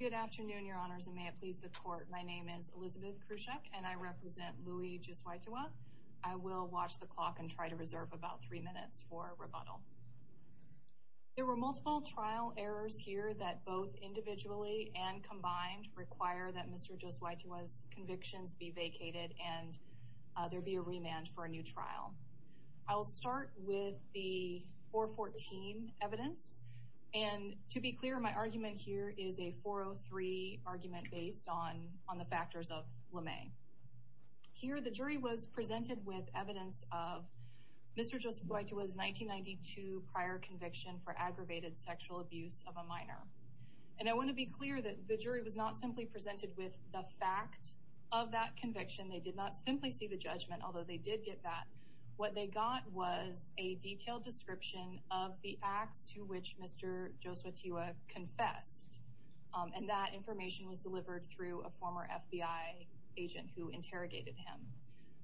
Good afternoon, your honors, and may it please the court. My name is Elizabeth Khrushchev and I represent Louie Josytewa. I will watch the clock and try to reserve about three minutes for rebuttal. There were multiple trial errors here that both individually and combined require that Mr. Josytewa's convictions be vacated and there be a remand for a new trial. I will start with the 414 evidence and to be clear my argument here is a 403 argument based on on the factors of LeMay. Here the jury was presented with evidence of Mr. Josytewa's 1992 prior conviction for aggravated sexual abuse of a minor. And I want to be clear that the jury was not simply presented with the fact of that conviction. They did not simply see the judgment, although they did get that. What they got was a detailed description of the acts to which Mr. Josytewa confessed and that information was delivered through a former FBI agent who interrogated him.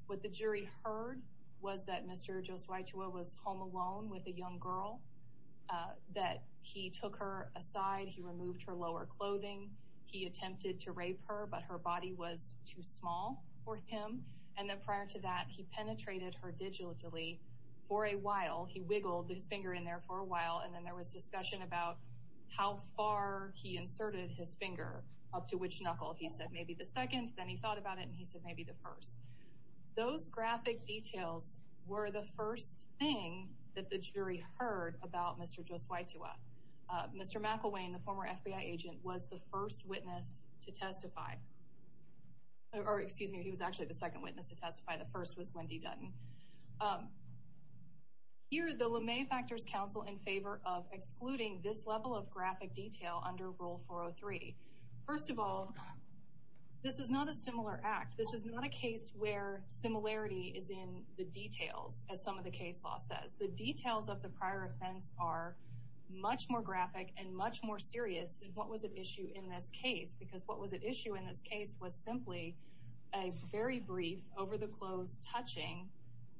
What the jury heard was that Mr. Josytewa was home alone with a young girl, that he took her aside, he removed her lower clothing, he attempted to rape her but her body was too small for him, and then prior to that he penetrated her digitally for a while. He wiggled his finger in there for a while and then there was discussion about how far he inserted his finger up to which knuckle. He said maybe the second, then he thought about it and he said maybe the first. Those graphic details were the first thing that the jury heard about Mr. Josytewa. Mr. McIlwain, the former FBI agent, was the first witness to testify or excuse me he was actually the second witness to testify. The first was Wendy Dutton. Here the LeMay Factors Council in favor of excluding this level of graphic detail under Rule 403. First of all, this is not a similar act. This is not a case where similarity is in the details as some of the case law says. The details of the prior offense are much more graphic and much more serious than what was at issue in this case because what was at issue in this case was simply a very brief, over-the-clothes touching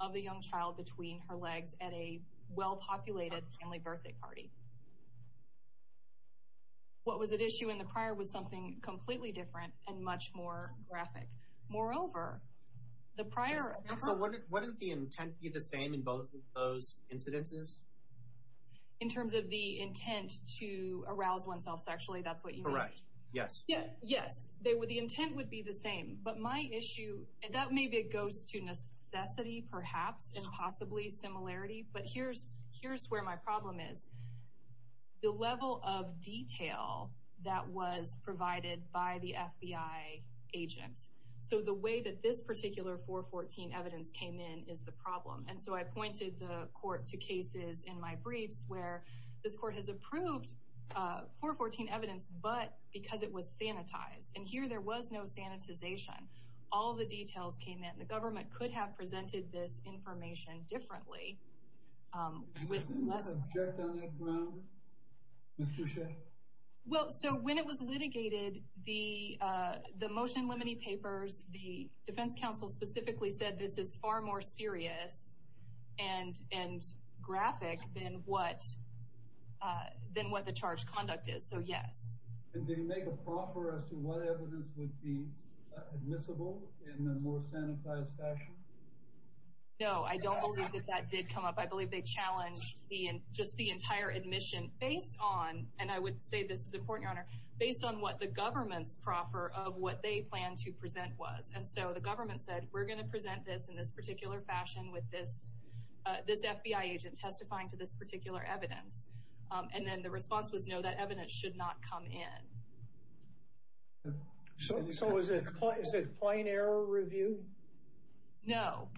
of a young child between her legs at a well-populated family birthday party. What was at issue in the prior was something completely different and much more graphic. Moreover, the prior... So wouldn't the intent be the same in both of those incidences? In terms of the intent to arouse oneself sexually, that's what you mean? Correct, yes. Yes, the intent would be the same. But my issue, and that maybe goes to necessity perhaps and possibly similarity, but here's where my problem is. The level of detail that was provided by the FBI agent. So the way that this particular 414 evidence came in is the problem. And so I pointed the court to cases in my briefs where this court has approved 414 evidence but because it was sanitized. And here there was no sanitization. All the details came in. The government could have presented this information differently. And wasn't that object on that ground, Ms. Boucher? Well, so when it was litigated, the motion limiting papers, the Defense Counsel specifically said this is far more serious and graphic than what the charged conduct is. So yes. Did they make a proffer as to what evidence would be admissible in a more sanitized fashion? No, I don't believe that that did come up. I believe they challenged just the entire admission based on, and I would say this is important, Your Honor, based on what the government's proffer of what they planned to present was. And so the government said we're going to present this in this particular fashion with this FBI agent testifying to this particular evidence. And then the response was no, that evidence should not come in. So is it plain error review? No,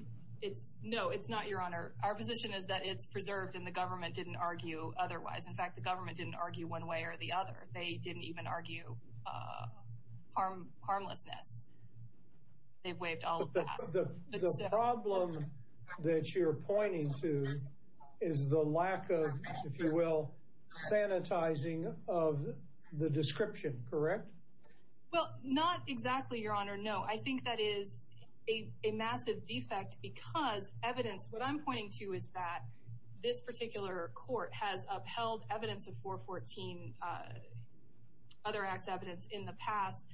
it's not, Your Honor. Our position is that it's preserved and the government didn't argue otherwise. In fact, the government didn't argue one way or the other. They didn't even argue harmlessness. They've sanitizing of the description, correct? Well, not exactly, Your Honor. No, I think that is a massive defect because evidence, what I'm pointing to is that this particular court has upheld evidence of 414 other acts evidence in the past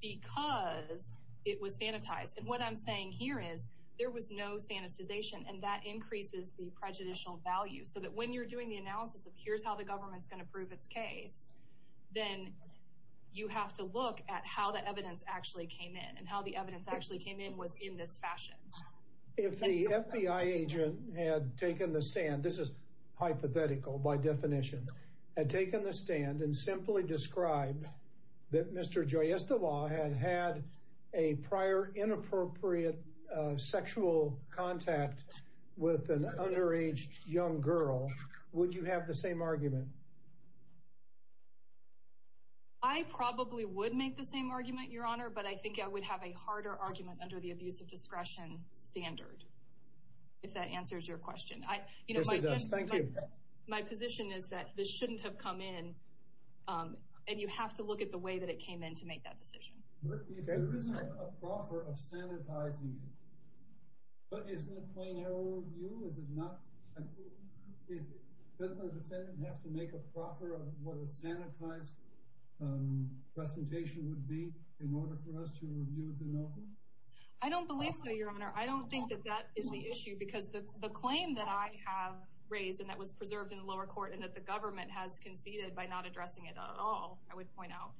because it was sanitized. And what I'm saying here is there was no sanitization, and that increases the prejudicial value so that when you're doing the analysis of here's how the government's going to prove its case, then you have to look at how the evidence actually came in and how the evidence actually came in was in this fashion. If the FBI agent had taken the stand, this is hypothetical by definition, had taken the stand and simply described that Mr. Joy Estivall had had a prior inappropriate sexual contact with an underage young girl, would you have the same argument? I probably would make the same argument, Your Honor, but I think I would have a harder argument under the abuse of discretion standard, if that answers your question. Yes, it does. Thank you. My position is that this shouldn't have come in, and you have to look at the way that it came in to make that decision. Okay. If there isn't a point... But isn't it a plain error of you? Is it not... Doesn't the defendant have to make a proffer of what a sanitized presentation would be in order for us to review the note? I don't believe so, Your Honor. I don't think that that is the issue because the claim that I have raised and that was preserved in lower court and that the government has conceded by not addressing it at all, I would point out,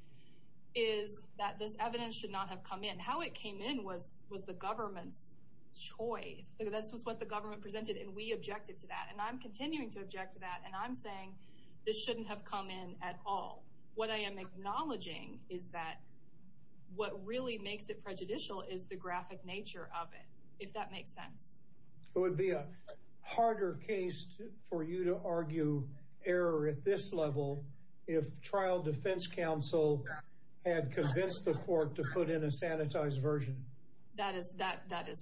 is that this evidence should not have come in. How it came in was the government's choice. This was what the government presented, and we objected to that. And I'm continuing to object to that, and I'm saying this shouldn't have come in at all. What I am acknowledging is that what really makes it prejudicial is the graphic nature of it, if that makes sense. It would be a harder case for you to argue error at this level if trial defense counsel had convinced the court to put in a sanitized version. That is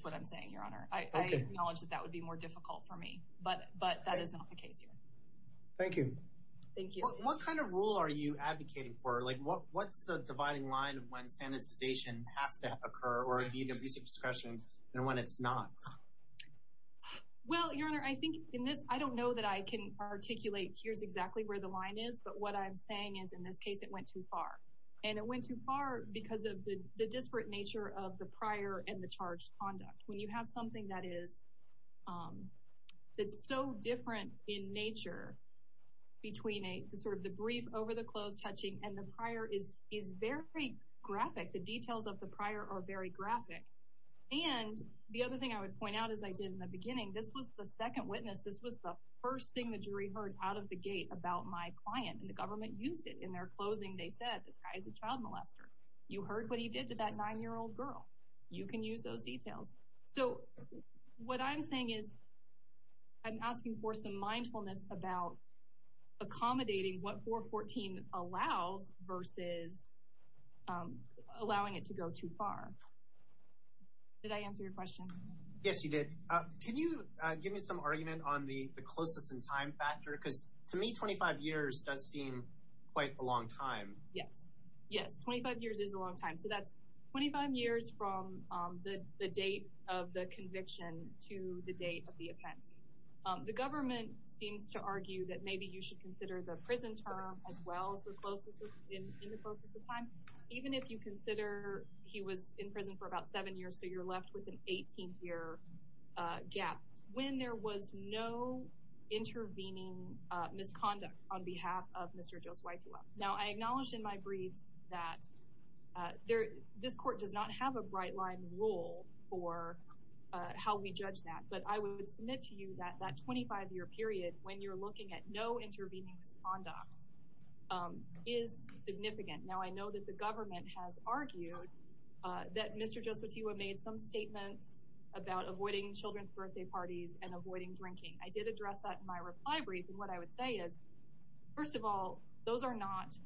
what I'm saying, Your Honor. I acknowledge that that would be more difficult for me, but that is not the case here. Thank you. Thank you. What kind of rule are you advocating for? What's the dividing line when sanitization has to occur or if you need to do some discretion and when it's not? Well, Your Honor, I think in this, I don't know that I can articulate here's exactly where the line is, but what I'm saying is, in this case, it went too far. And it went too far because of the disparate nature of the prior and the charge conduct. When you have something that's so different in nature between the brief over the close touching and the prior is very graphic, the details of the prior are very graphic. And the other thing I would point out as I did in the beginning, this was the second witness, this was the first thing the jury heard out of the And the government used it in their closing. They said, this guy is a child molester. You heard what he did to that nine year old girl. You can use those details. So what I'm saying is, I'm asking for some mindfulness about accommodating what 414 allows versus allowing it to go too far. Did I answer your question? Yes, you did. Can you give me some argument on the closeness and time factor? Because to me, 25 years does seem quite a long time. Yes. Yes, 25 years is a long time. So that's 25 years from the date of the conviction to the date of the offense. The government seems to argue that maybe you should consider the prison term as well in the closest of time. Even if you consider he was in prison for about seven years, so you're left with an 18 year gap when there was no intervening misconduct on behalf of Mr. Josue Tewa. Now, I acknowledge in my briefs that this court does not have a bright line rule for how we judge that, but I would submit to you that that 25 year period when you're looking at no intervening misconduct is significant. Now, I know that the government has argued that Mr. Tewa should be charged with avoiding children's birthday parties and avoiding drinking. I did address that in my reply brief, and what I would say is, first of all, those are not...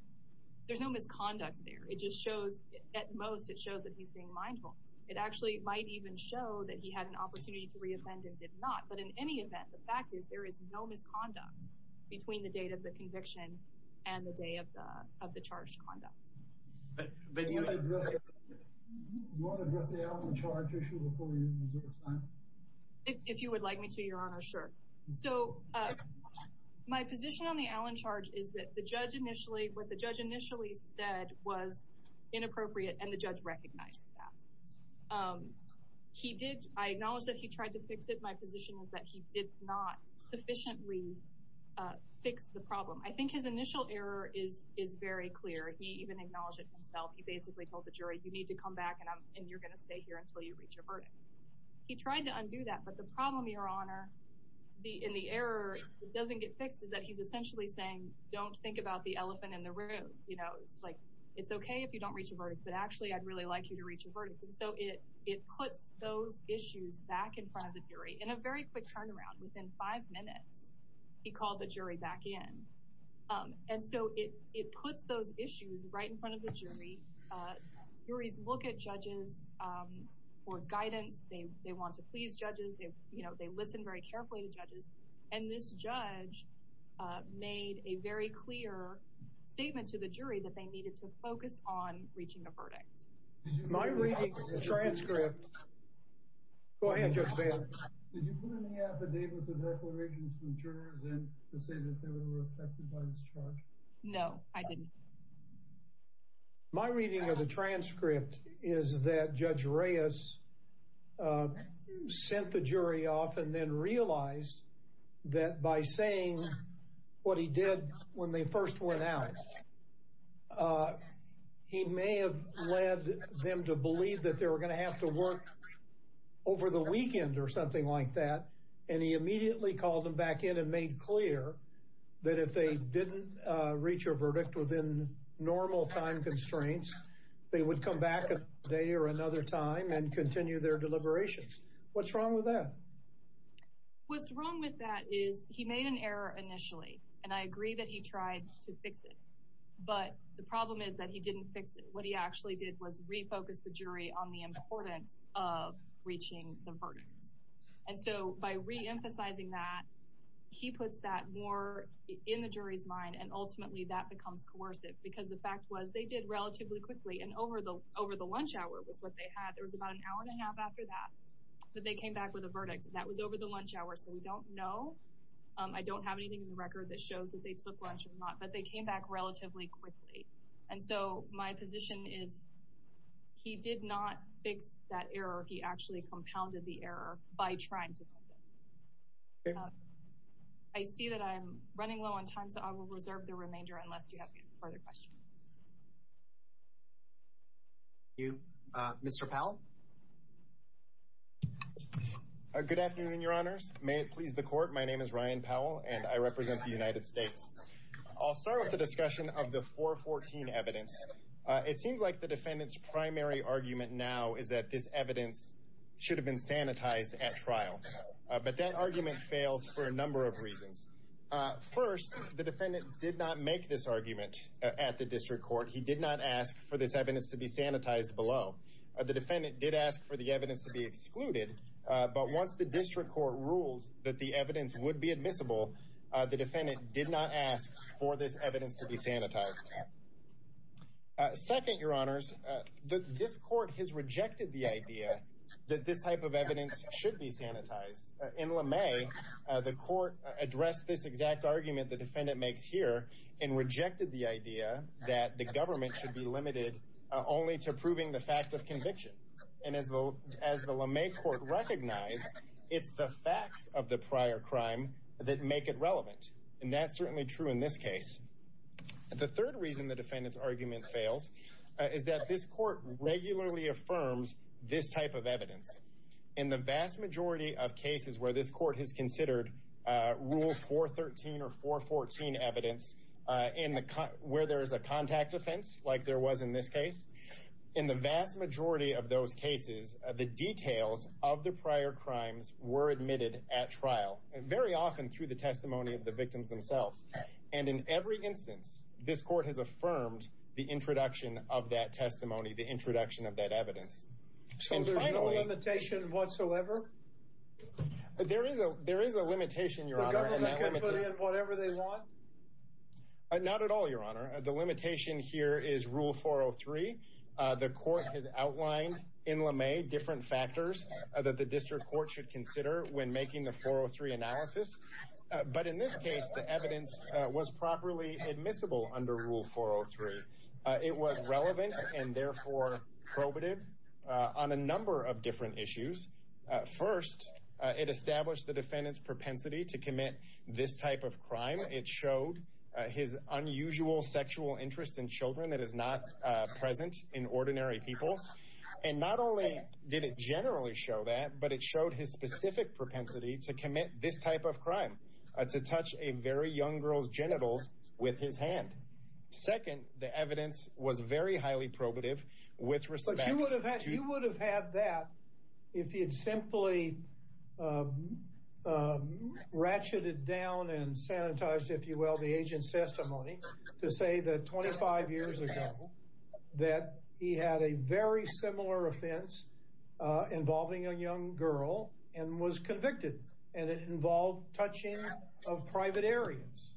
There's no misconduct there. It just shows, at most, it shows that he's being mindful. It actually might even show that he had an opportunity to reoffend and did not, but in any event, the fact is there is no misconduct between the date of the conviction and the day of the charge conduct. But you... Do you wanna address the Alvin Charge issue before you move on? If you would like me to, Your Honor, sure. So, my position on the Alvin Charge is that the judge initially... What the judge initially said was inappropriate, and the judge recognized that. He did... I acknowledge that he tried to fix it. My position is that he did not sufficiently fix the problem. I think his initial error is very clear. He even acknowledged it himself. He basically told the jury, you need to come back and you're gonna stay here until you reach your verdict. He tried to undo that, but the problem, Your Honor, in the error, it doesn't get fixed, is that he's essentially saying, don't think about the elephant in the room. It's like, it's okay if you don't reach a verdict, but actually, I'd really like you to reach a verdict. And so it puts those issues back in front of the jury. In a very quick turnaround, within five minutes, he called the jury back in. And so it puts those issues right in front of the jury. Juries look at judges for guidance. They want to please judges. They listen very carefully to judges. And this judge made a very clear statement to the jury that they needed to focus on reaching a verdict. Am I reading the transcript? Go ahead, Judge Baird. Did you put any affidavits or declarations from jurors in to say that they were affected by this charge? No, I didn't. My reading of the transcript is that Judge Reyes sent the jury off and then realized that by saying what he did when they first went out, he may have led them to believe that they were gonna have to work over the weekend or something like that. And he immediately called them back in and made clear that if they didn't reach a verdict within normal time constraints, they would come back a day or another time and continue their deliberations. What's wrong with that? What's wrong with that is he made an error initially, and I agree that he tried to fix it. But the problem is that he didn't fix it. What he actually did was refocus the jury on the importance of reaching the verdict. And so by reemphasizing that, he puts that more in the jury's mind, and ultimately that becomes coercive because the fact was they did relatively quickly and over the lunch hour was what they had. There was about an hour and a half after that that they came back with a verdict. That was over the lunch hour, so we don't know. I don't have anything in the record that shows that they took lunch or not, but they came back relatively quickly. And so my position is he did not fix that error. He actually compounded the error by trying to. I see that I'm running low on time, so I will reserve the remainder unless you have any further questions. Thank you. Mr. Powell? Good afternoon, your honors. May it please the court, my name is Ryan Powell, and I represent the United States. I'll start with the discussion of the 414 evidence. It seems like the defendant's primary argument now is that this evidence should have been sanitized at trial, but that argument fails for a number of reasons. First, the defendant did not make this argument at the district court. He did not ask for this evidence to be sanitized below. The defendant did ask for the evidence to be excluded, but once the district court ruled that the evidence would be admissible, the defendant did not ask for this evidence to be sanitized. Second, your honors, this court has rejected the idea that this type of evidence should be sanitized. In Lemay, the court addressed this exact argument the defendant makes here and rejected the idea that the government should be limited only to proving the fact of conviction. And as the Lemay court recognized, it's the facts of the prior crime that make it relevant, and that's certainly true in this case. The third reason the defendant's argument fails is that this court regularly affirms this type of evidence. In the vast majority of cases where this court has considered Rule 413 or 414 evidence, where there's a contact offense like there was in this case, in the vast majority of those cases, the details of the prior crimes were admitted at trial, and very often through the testimony of the victims themselves. And in every instance, this court has affirmed the introduction of that testimony, the introduction of that evidence. So there's no limitation whatsoever? There is a limitation, your honor. The government can put in whatever they want? Not at all, your honor. The limitation here is Rule 403. The court has outlined in Lemay different factors that the district court should consider when making the 403 analysis. But in this case, the evidence was properly admissible under Rule 403. It was relevant and therefore probative on a number of different issues. First, it established the defendant's propensity to commit this type of crime. It showed his unusual sexual interest in children that is not present in ordinary people. And not only did it generally show that, but it showed his specific propensity to commit this type of crime, to touch a very young girl's reproductive with respect to... But you would have had that if you had simply ratcheted down and sanitized, if you will, the agent's testimony to say that 25 years ago, that he had a very similar offense involving a young girl and was convicted, and it involved touching of private areas.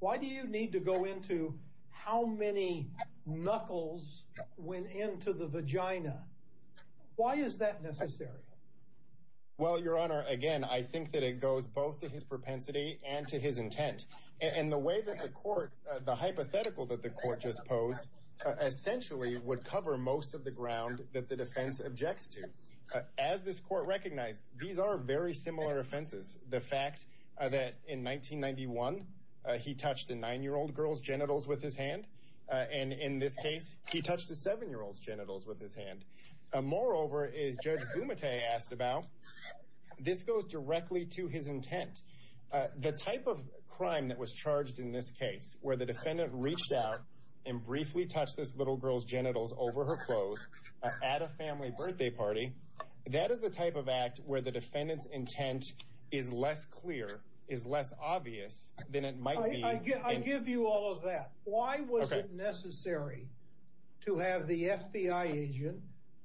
Why do you need to go into how many knuckles went into the vagina? Why is that necessary? Well, your honor, again, I think that it goes both to his propensity and to his intent. And the way that the court, the hypothetical that the court just posed, essentially would cover most of the ground that the defense objects to. As this court recognized, these are very similar offenses. The fact that in 1991, he touched a nine year old girl's genitals with his hand, and in this case, he touched a seven year old's genitals with his hand. Moreover, as Judge Gumate asked about, this goes directly to his intent. The type of crime that was charged in this case, where the defendant reached out and briefly touched this little girl's genitals over her clothes at a family birthday party, that is the type of act where the defendant's intent is less clear, is less obvious than it might be. I give you all of that. Why was it necessary to have the FBI agent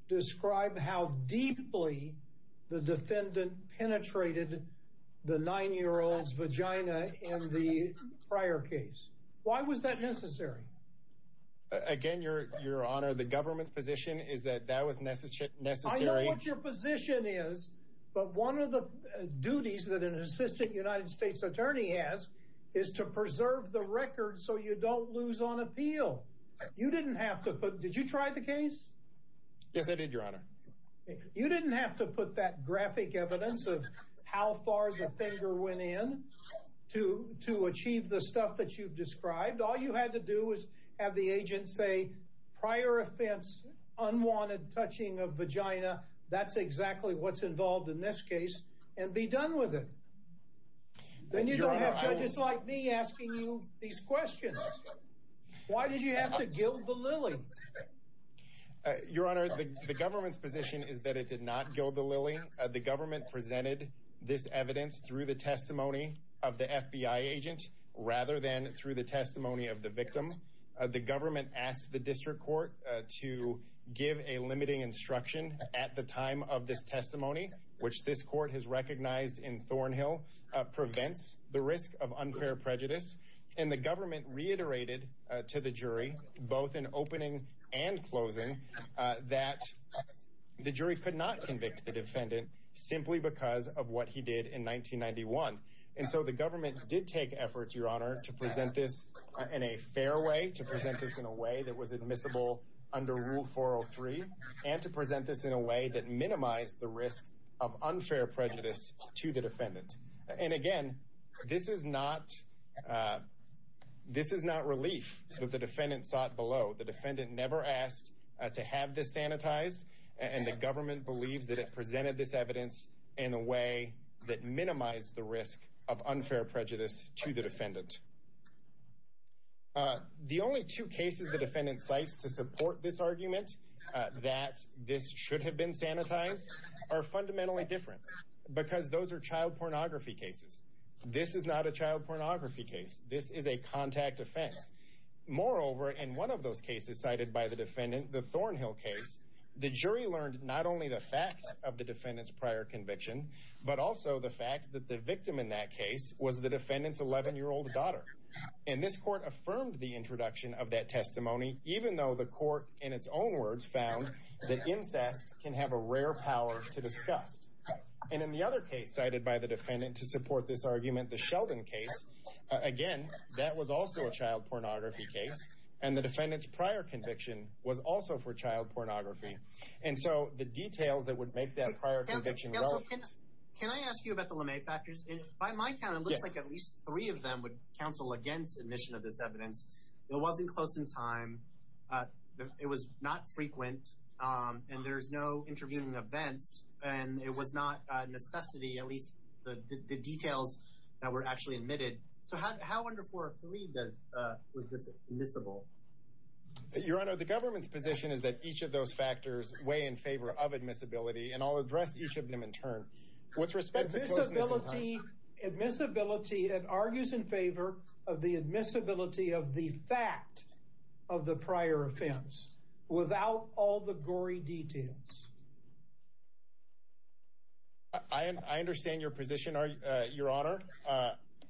describe how deeply the defendant penetrated the nine year old's vagina in the prior case? Why was that necessary? Again, your honor, the government's position is that that was necessary. I know what your position is, but one of the duties that an assistant United States attorney has is to preserve the record so you don't lose on appeal. You didn't have to put... Did you try the case? Yes, I did, your honor. You didn't have to put that graphic evidence of how far the finger went in to achieve the stuff that you've described. All you had to do was have the agent say, prior offense, unwanted touching of vagina, that's exactly what's involved in this case, and be done with it. Then you don't have judges like me asking you these questions. Why did you have to gild the lily? Your honor, the government's position is that it did not gild the lily. The government presented this evidence through the testimony of the FBI agent, rather than through the testimony of the victim. The government asked the district court to give a limiting instruction at the time of this testimony, which this court has recognized in Thornhill, prevents the risk of unfair prejudice. And the government reiterated to the jury, both in opening and closing, that the jury could not convict the defendant, simply because of what he did in 1991. And so the government did take efforts, your honor, to present this in a fair way, to present this in a way that was admissible under Rule 403, and to present this in a way that minimized the risk of unfair prejudice to the defendant. And again, this is not relief that the defendant sought below. The defendant never asked to have this sanitized, and the government believes that it presented this evidence in a way that minimized the risk of unfair prejudice to the defendant. The only two cases the defendant cites to support this argument, that this should have been sanitized, are fundamentally different, because those are child pornography cases. This is not a child pornography case. This is a contact offense. Moreover, in one of those cases cited by the defendant, the Thornhill case, the jury learned not only the fact of the defendant's prior conviction, but also the fact that the victim in that case was the defendant's 11 year old daughter. And this court affirmed the introduction of that testimony, even though the court, in its own words, found that incest can have a rare power to disgust. And in the other case cited by the defendant to support this argument, the Sheldon case, again, that was also a child pornography case, and the defendant's prior conviction was also for child pornography. And so the details that would make that prior conviction relevant... Counselor, can I ask you about the LeMay factors? By my count, it looks like at least three of them would counsel against admission of this evidence. It wasn't close in time, it was not frequent, and there's no interviewing events, and it was not necessity, at least the details that were actually admitted. So how wonderful were three that was admissible? Your Honor, the government's position is that each of those factors weigh in favor of admissibility, and I'll address each of them in turn. With respect to... Admissibility, it argues in favor of the admissibility of the fact of the prior offense, without all the gory details. I understand your position, Your Honor.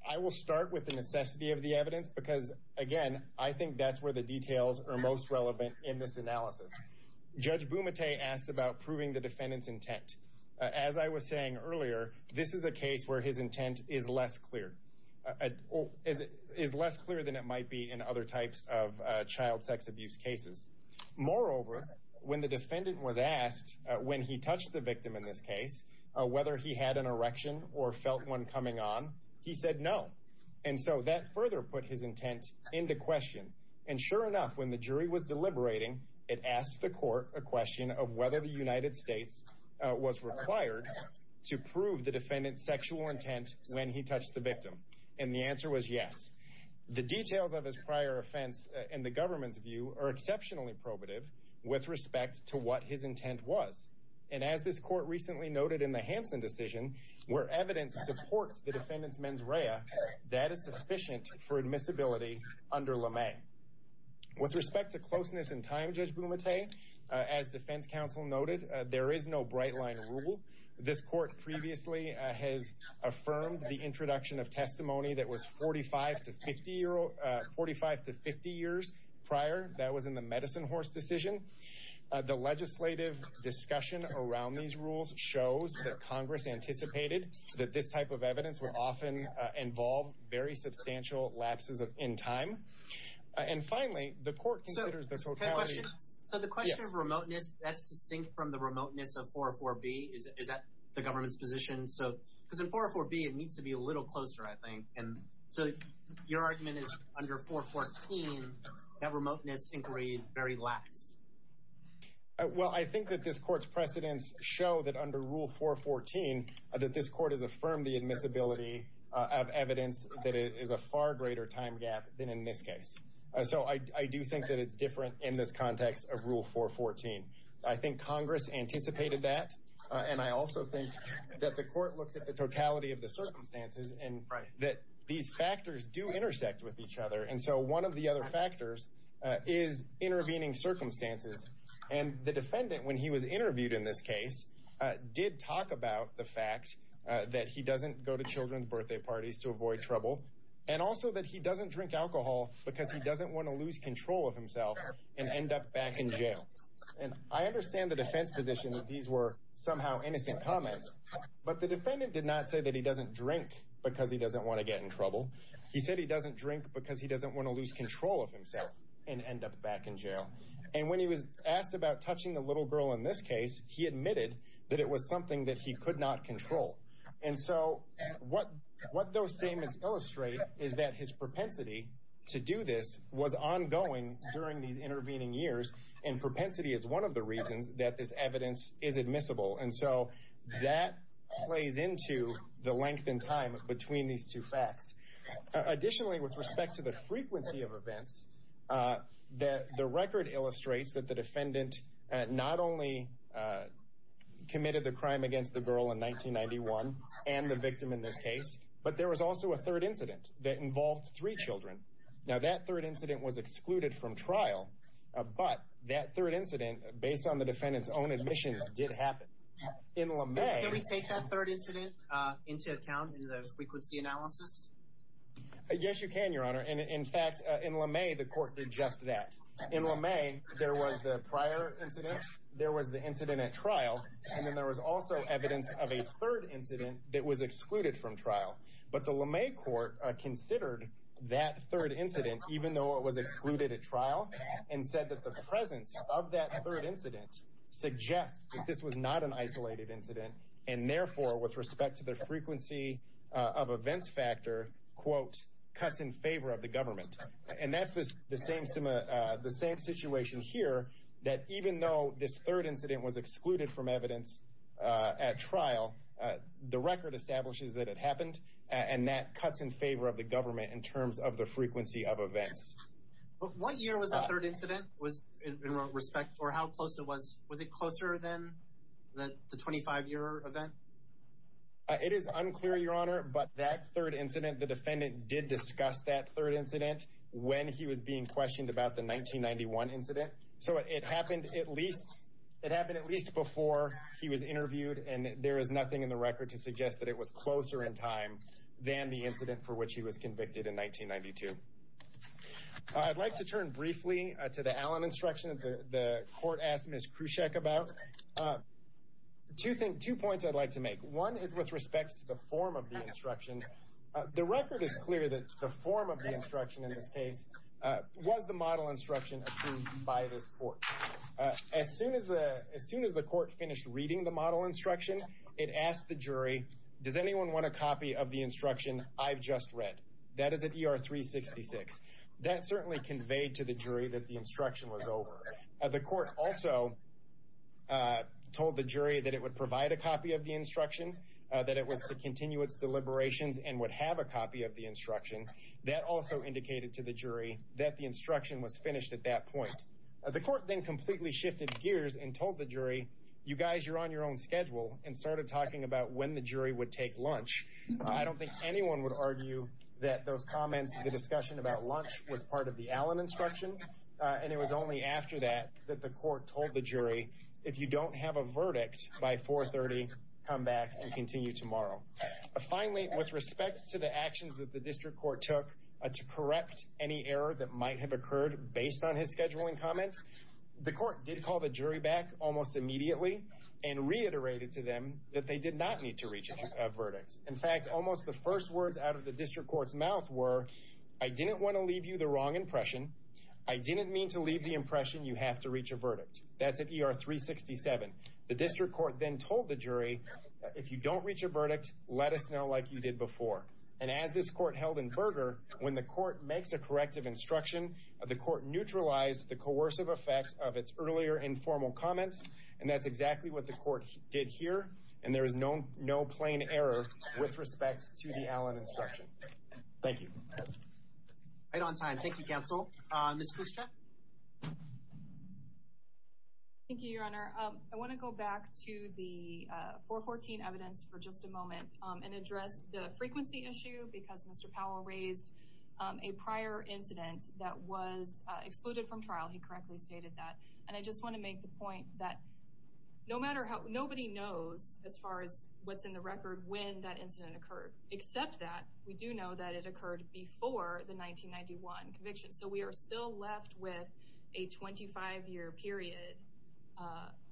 I will start with the necessity of the evidence, because again, I think that's where the details are most relevant in this analysis. Judge Bumate asked about proving the defendant's intent. As I was saying earlier, this is a case where his intent is less clear, is less clear than it might be in other types of child sex abuse cases. Moreover, when the defendant was asked, when he touched the victim in this case, whether he had an erection or felt one coming on, he said no. And so that further put his intent into question. And sure enough, when the jury was deliberating, it asked the court a question of whether the United States was required to prove the defendant's sexual intent when he touched the victim, and the answer was yes. The details of his prior offense, in the government's view, are exceptionally probative with respect to what his intent was. And as this court recently noted in the Hansen decision, where evidence supports the defendant's mens rea, that is sufficient for admissibility under LeMay. With respect to closeness in time, Judge Bumate, as defense counsel noted, there is no bright line rule. This court previously has affirmed the introduction of testimony that was 45 to 50 years prior. That was in the Medicine Horse decision. The legislative discussion around these rules shows that Congress anticipated that this type of evidence would often involve very substantial lapses in time. And finally, the court considers the totality... So the question of remoteness, that's distinct from the remoteness of 404B. Is that the government's position? Because in 404B, it needs to be a little closer, I think. And so your argument is, under 414, that remoteness inquiry is very lax. Well, I think that this court's precedents show that under Rule 414, that this court has affirmed the admissibility of evidence that is a far greater time gap than in this case. So I do think that it's different in this context of Rule 414. I think Congress anticipated that, and I also think that the court looks at the totality of the circumstances, and that these factors do intersect with each other. And so one of the other factors is intervening circumstances. And the defendant, when he was interviewed in this case, did talk about the fact that he doesn't go to children's birthday parties to avoid trouble, and also that he doesn't drink alcohol because he doesn't wanna lose control of himself and end up back in jail. And I understand the defense position that these were somehow innocent comments, but the defendant did not say that he doesn't drink because he doesn't wanna get in trouble. He said he doesn't drink because he doesn't wanna lose control of himself and end up back in jail. And when he was asked about touching the little girl in this case, he admitted that it was something that he could not control. And so what those statements illustrate is that his propensity to do this was ongoing during these intervening years, and propensity is one of the reasons that this evidence is admissible. And so that plays into the length and time between these two facts. Additionally, with respect to the frequency of events, the record illustrates that the defendant not only committed the crime against the girl in 1991 and the victim in this case, but there was also a third incident that involved three children. Now, that third incident was excluded from trial, but that third incident, based on the defendant's own admissions, did happen. In LeMay... Can we take that third incident into account in the frequency analysis? Yes, you can, Your Honor. And in fact, in LeMay, the court did just that. In LeMay, there was the prior incident, there was the incident at trial, and then there was also evidence of a third incident that was excluded from trial. But the LeMay court considered that third incident, even though it was excluded at trial, and said that the presence of that third incident suggests that this was not an isolated incident, and therefore, with respect to the frequency of events factor, cuts in favor of the government. And that's the same situation here, that even though this third incident was excluded from evidence at trial, the record establishes that it happened, and that it was not an isolated event. One year was the third incident, was, in respect... Or how close it was? Was it closer than the 25 year event? It is unclear, Your Honor, but that third incident, the defendant did discuss that third incident when he was being questioned about the 1991 incident. So it happened at least... It happened at least before he was interviewed, and there is nothing in the record to suggest that it was closer in time than the incident for which he was questioned. I'd like to turn briefly to the Allen instruction that the court asked Ms. Krusek about. Two points I'd like to make. One is with respect to the form of the instruction. The record is clear that the form of the instruction in this case was the model instruction approved by this court. As soon as the court finished reading the model instruction, it asked the jury, does anyone want a copy of the instruction I've just read? That is at ER 366. That certainly conveyed to the jury that the instruction was over. The court also told the jury that it would provide a copy of the instruction, that it was to continue its deliberations and would have a copy of the instruction. That also indicated to the jury that the instruction was finished at that point. The court then completely shifted gears and told the jury, you guys, you're on your own schedule, and started talking about when the jury would take lunch. I don't think anyone would argue that those comments, the discussion about lunch was part of the Allen instruction, and it was only after that that the court told the jury, if you don't have a verdict by 430, come back and continue tomorrow. Finally, with respect to the actions that the district court took to correct any error that might have occurred based on his scheduling comments, the court did call the jury back almost immediately and reiterated to them that they did not need to reach a verdict. In fact, almost the first words out of the district court's mouth were, I didn't wanna leave you the wrong impression. I didn't mean to leave the impression you have to reach a verdict. That's at ER 367. The district court then told the jury, if you don't reach a verdict, let us know like you did before. And as this court held in Berger, when the court makes a corrective instruction, the court neutralized the coercive effects of its earlier informal comments, and that's exactly what the court did here. And there is no plain error with respect to the Allen instruction. Thank you. Right on time. Thank you, counsel. Ms. Kushta. Thank you, your honor. I wanna go back to the 414 evidence for just a moment and address the frequency issue because Mr. Powell raised a prior incident that was excluded from trial. He correctly stated that. And I just wanna make the point that nobody knows as far as what's in the record when that incident occurred, except that we do know that it occurred before the 1991 conviction. So we are still left with a 25 year period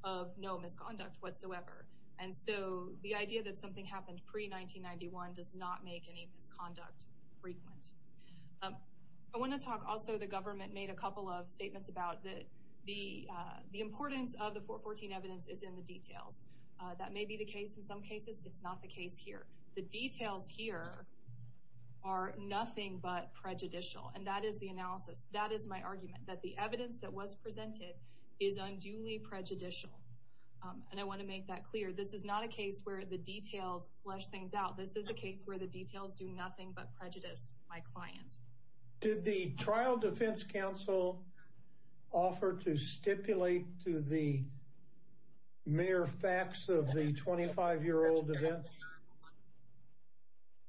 of no misconduct whatsoever. And so the idea that something happened pre 1991 does not make any misconduct frequent. I wanna talk also, the government made a couple of statements about the importance of the 414 evidence is in the details. That may be the case in some cases. It's not the case here. The details here are nothing but prejudicial. And that is the analysis. That is my argument, that the evidence that was presented is unduly prejudicial. And I wanna make that clear. This is not a case where the details flush things out. This is a case where the details do nothing but prejudice my client. Did the trial defense counsel offer to stipulate to the mere facts of the 25 year old event?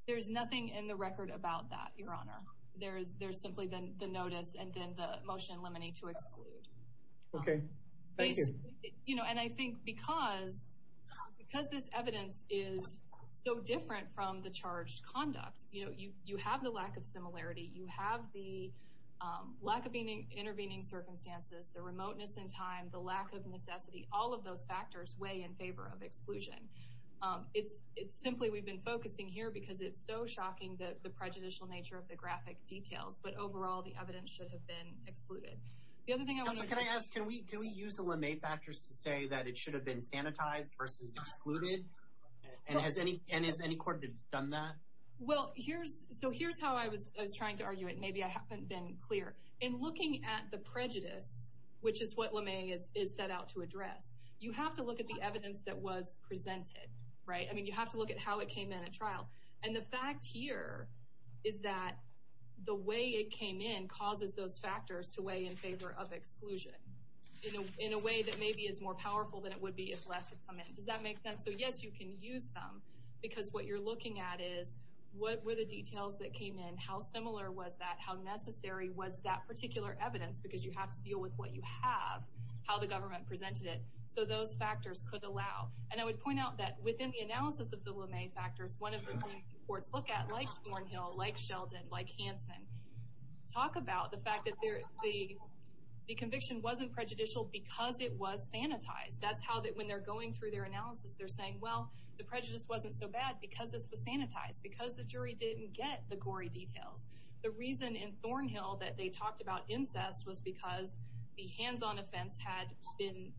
There's nothing in the record about that, your honor. There's simply the notice and then the motion in limine to exclude. Okay. Thank you. And I think because this evidence is so different from the charged conduct, you have the lack of similarity, you have the lack of intervening circumstances, the remoteness in time, the lack of necessity, all of those factors weigh in favor of exclusion. It's simply we've been focusing here because it's so shocking the prejudicial nature of the graphic details. But overall, the evidence should have been excluded. The other thing I wanna... Counselor, can I ask, can we use the Lemay factors to say that it should have been sanitized versus excluded? And has any court done that? Well, here's... So here's how I was trying to argue it. Maybe I haven't been clear. In looking at the prejudice, which is what Lemay is set out to address, you have to look at the evidence that was presented. I mean, you have to look at how it came in at trial. And the fact here is that the way it came in causes those exclusion in a way that maybe is more powerful than it would be if less had come in. Does that make sense? So yes, you can use them because what you're looking at is, what were the details that came in? How similar was that? How necessary was that particular evidence? Because you have to deal with what you have, how the government presented it. So those factors could allow. And I would point out that within the analysis of the Lemay factors, one of the main reports look at, like Thornhill, like Sheldon, like Hanson, talk about the fact that the conviction wasn't prejudicial because it was sanitized. That's how that when they're going through their analysis, they're saying, well, the prejudice wasn't so bad because this was sanitized, because the jury didn't get the gory details. The reason in Thornhill that they talked about incest was because the hands on offense had been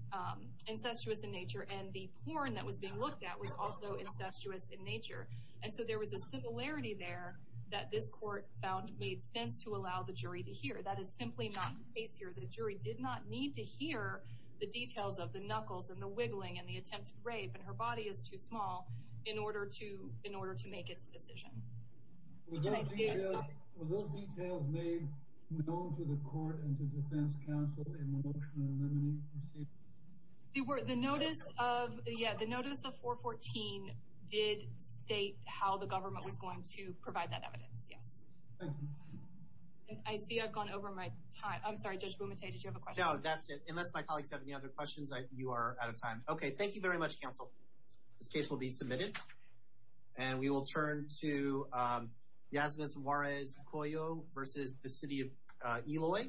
incestuous in nature, and the porn that was being looked at was also incestuous in nature. And so there was a similarity there that this court found made sense to allow the jury to hear. That is simply not the case here. The jury did not need to hear the details of the knuckles and the wiggling and the attempted rape, and her body is too small in order to make its decision. Were those details made known to the court and to defense counsel in the motion of the Lemay proceeding? The notice of 414 did state how the government was going to provide that evidence, yes. I see I've gone over my time. I'm sorry, Judge Bumate, did you have a question? No, that's it. Unless my colleagues have any other questions, you are out of time. Okay, thank you very much, counsel. This case will be submitted, and we will turn to Yasmus Juarez Coyo versus the city of Eloy.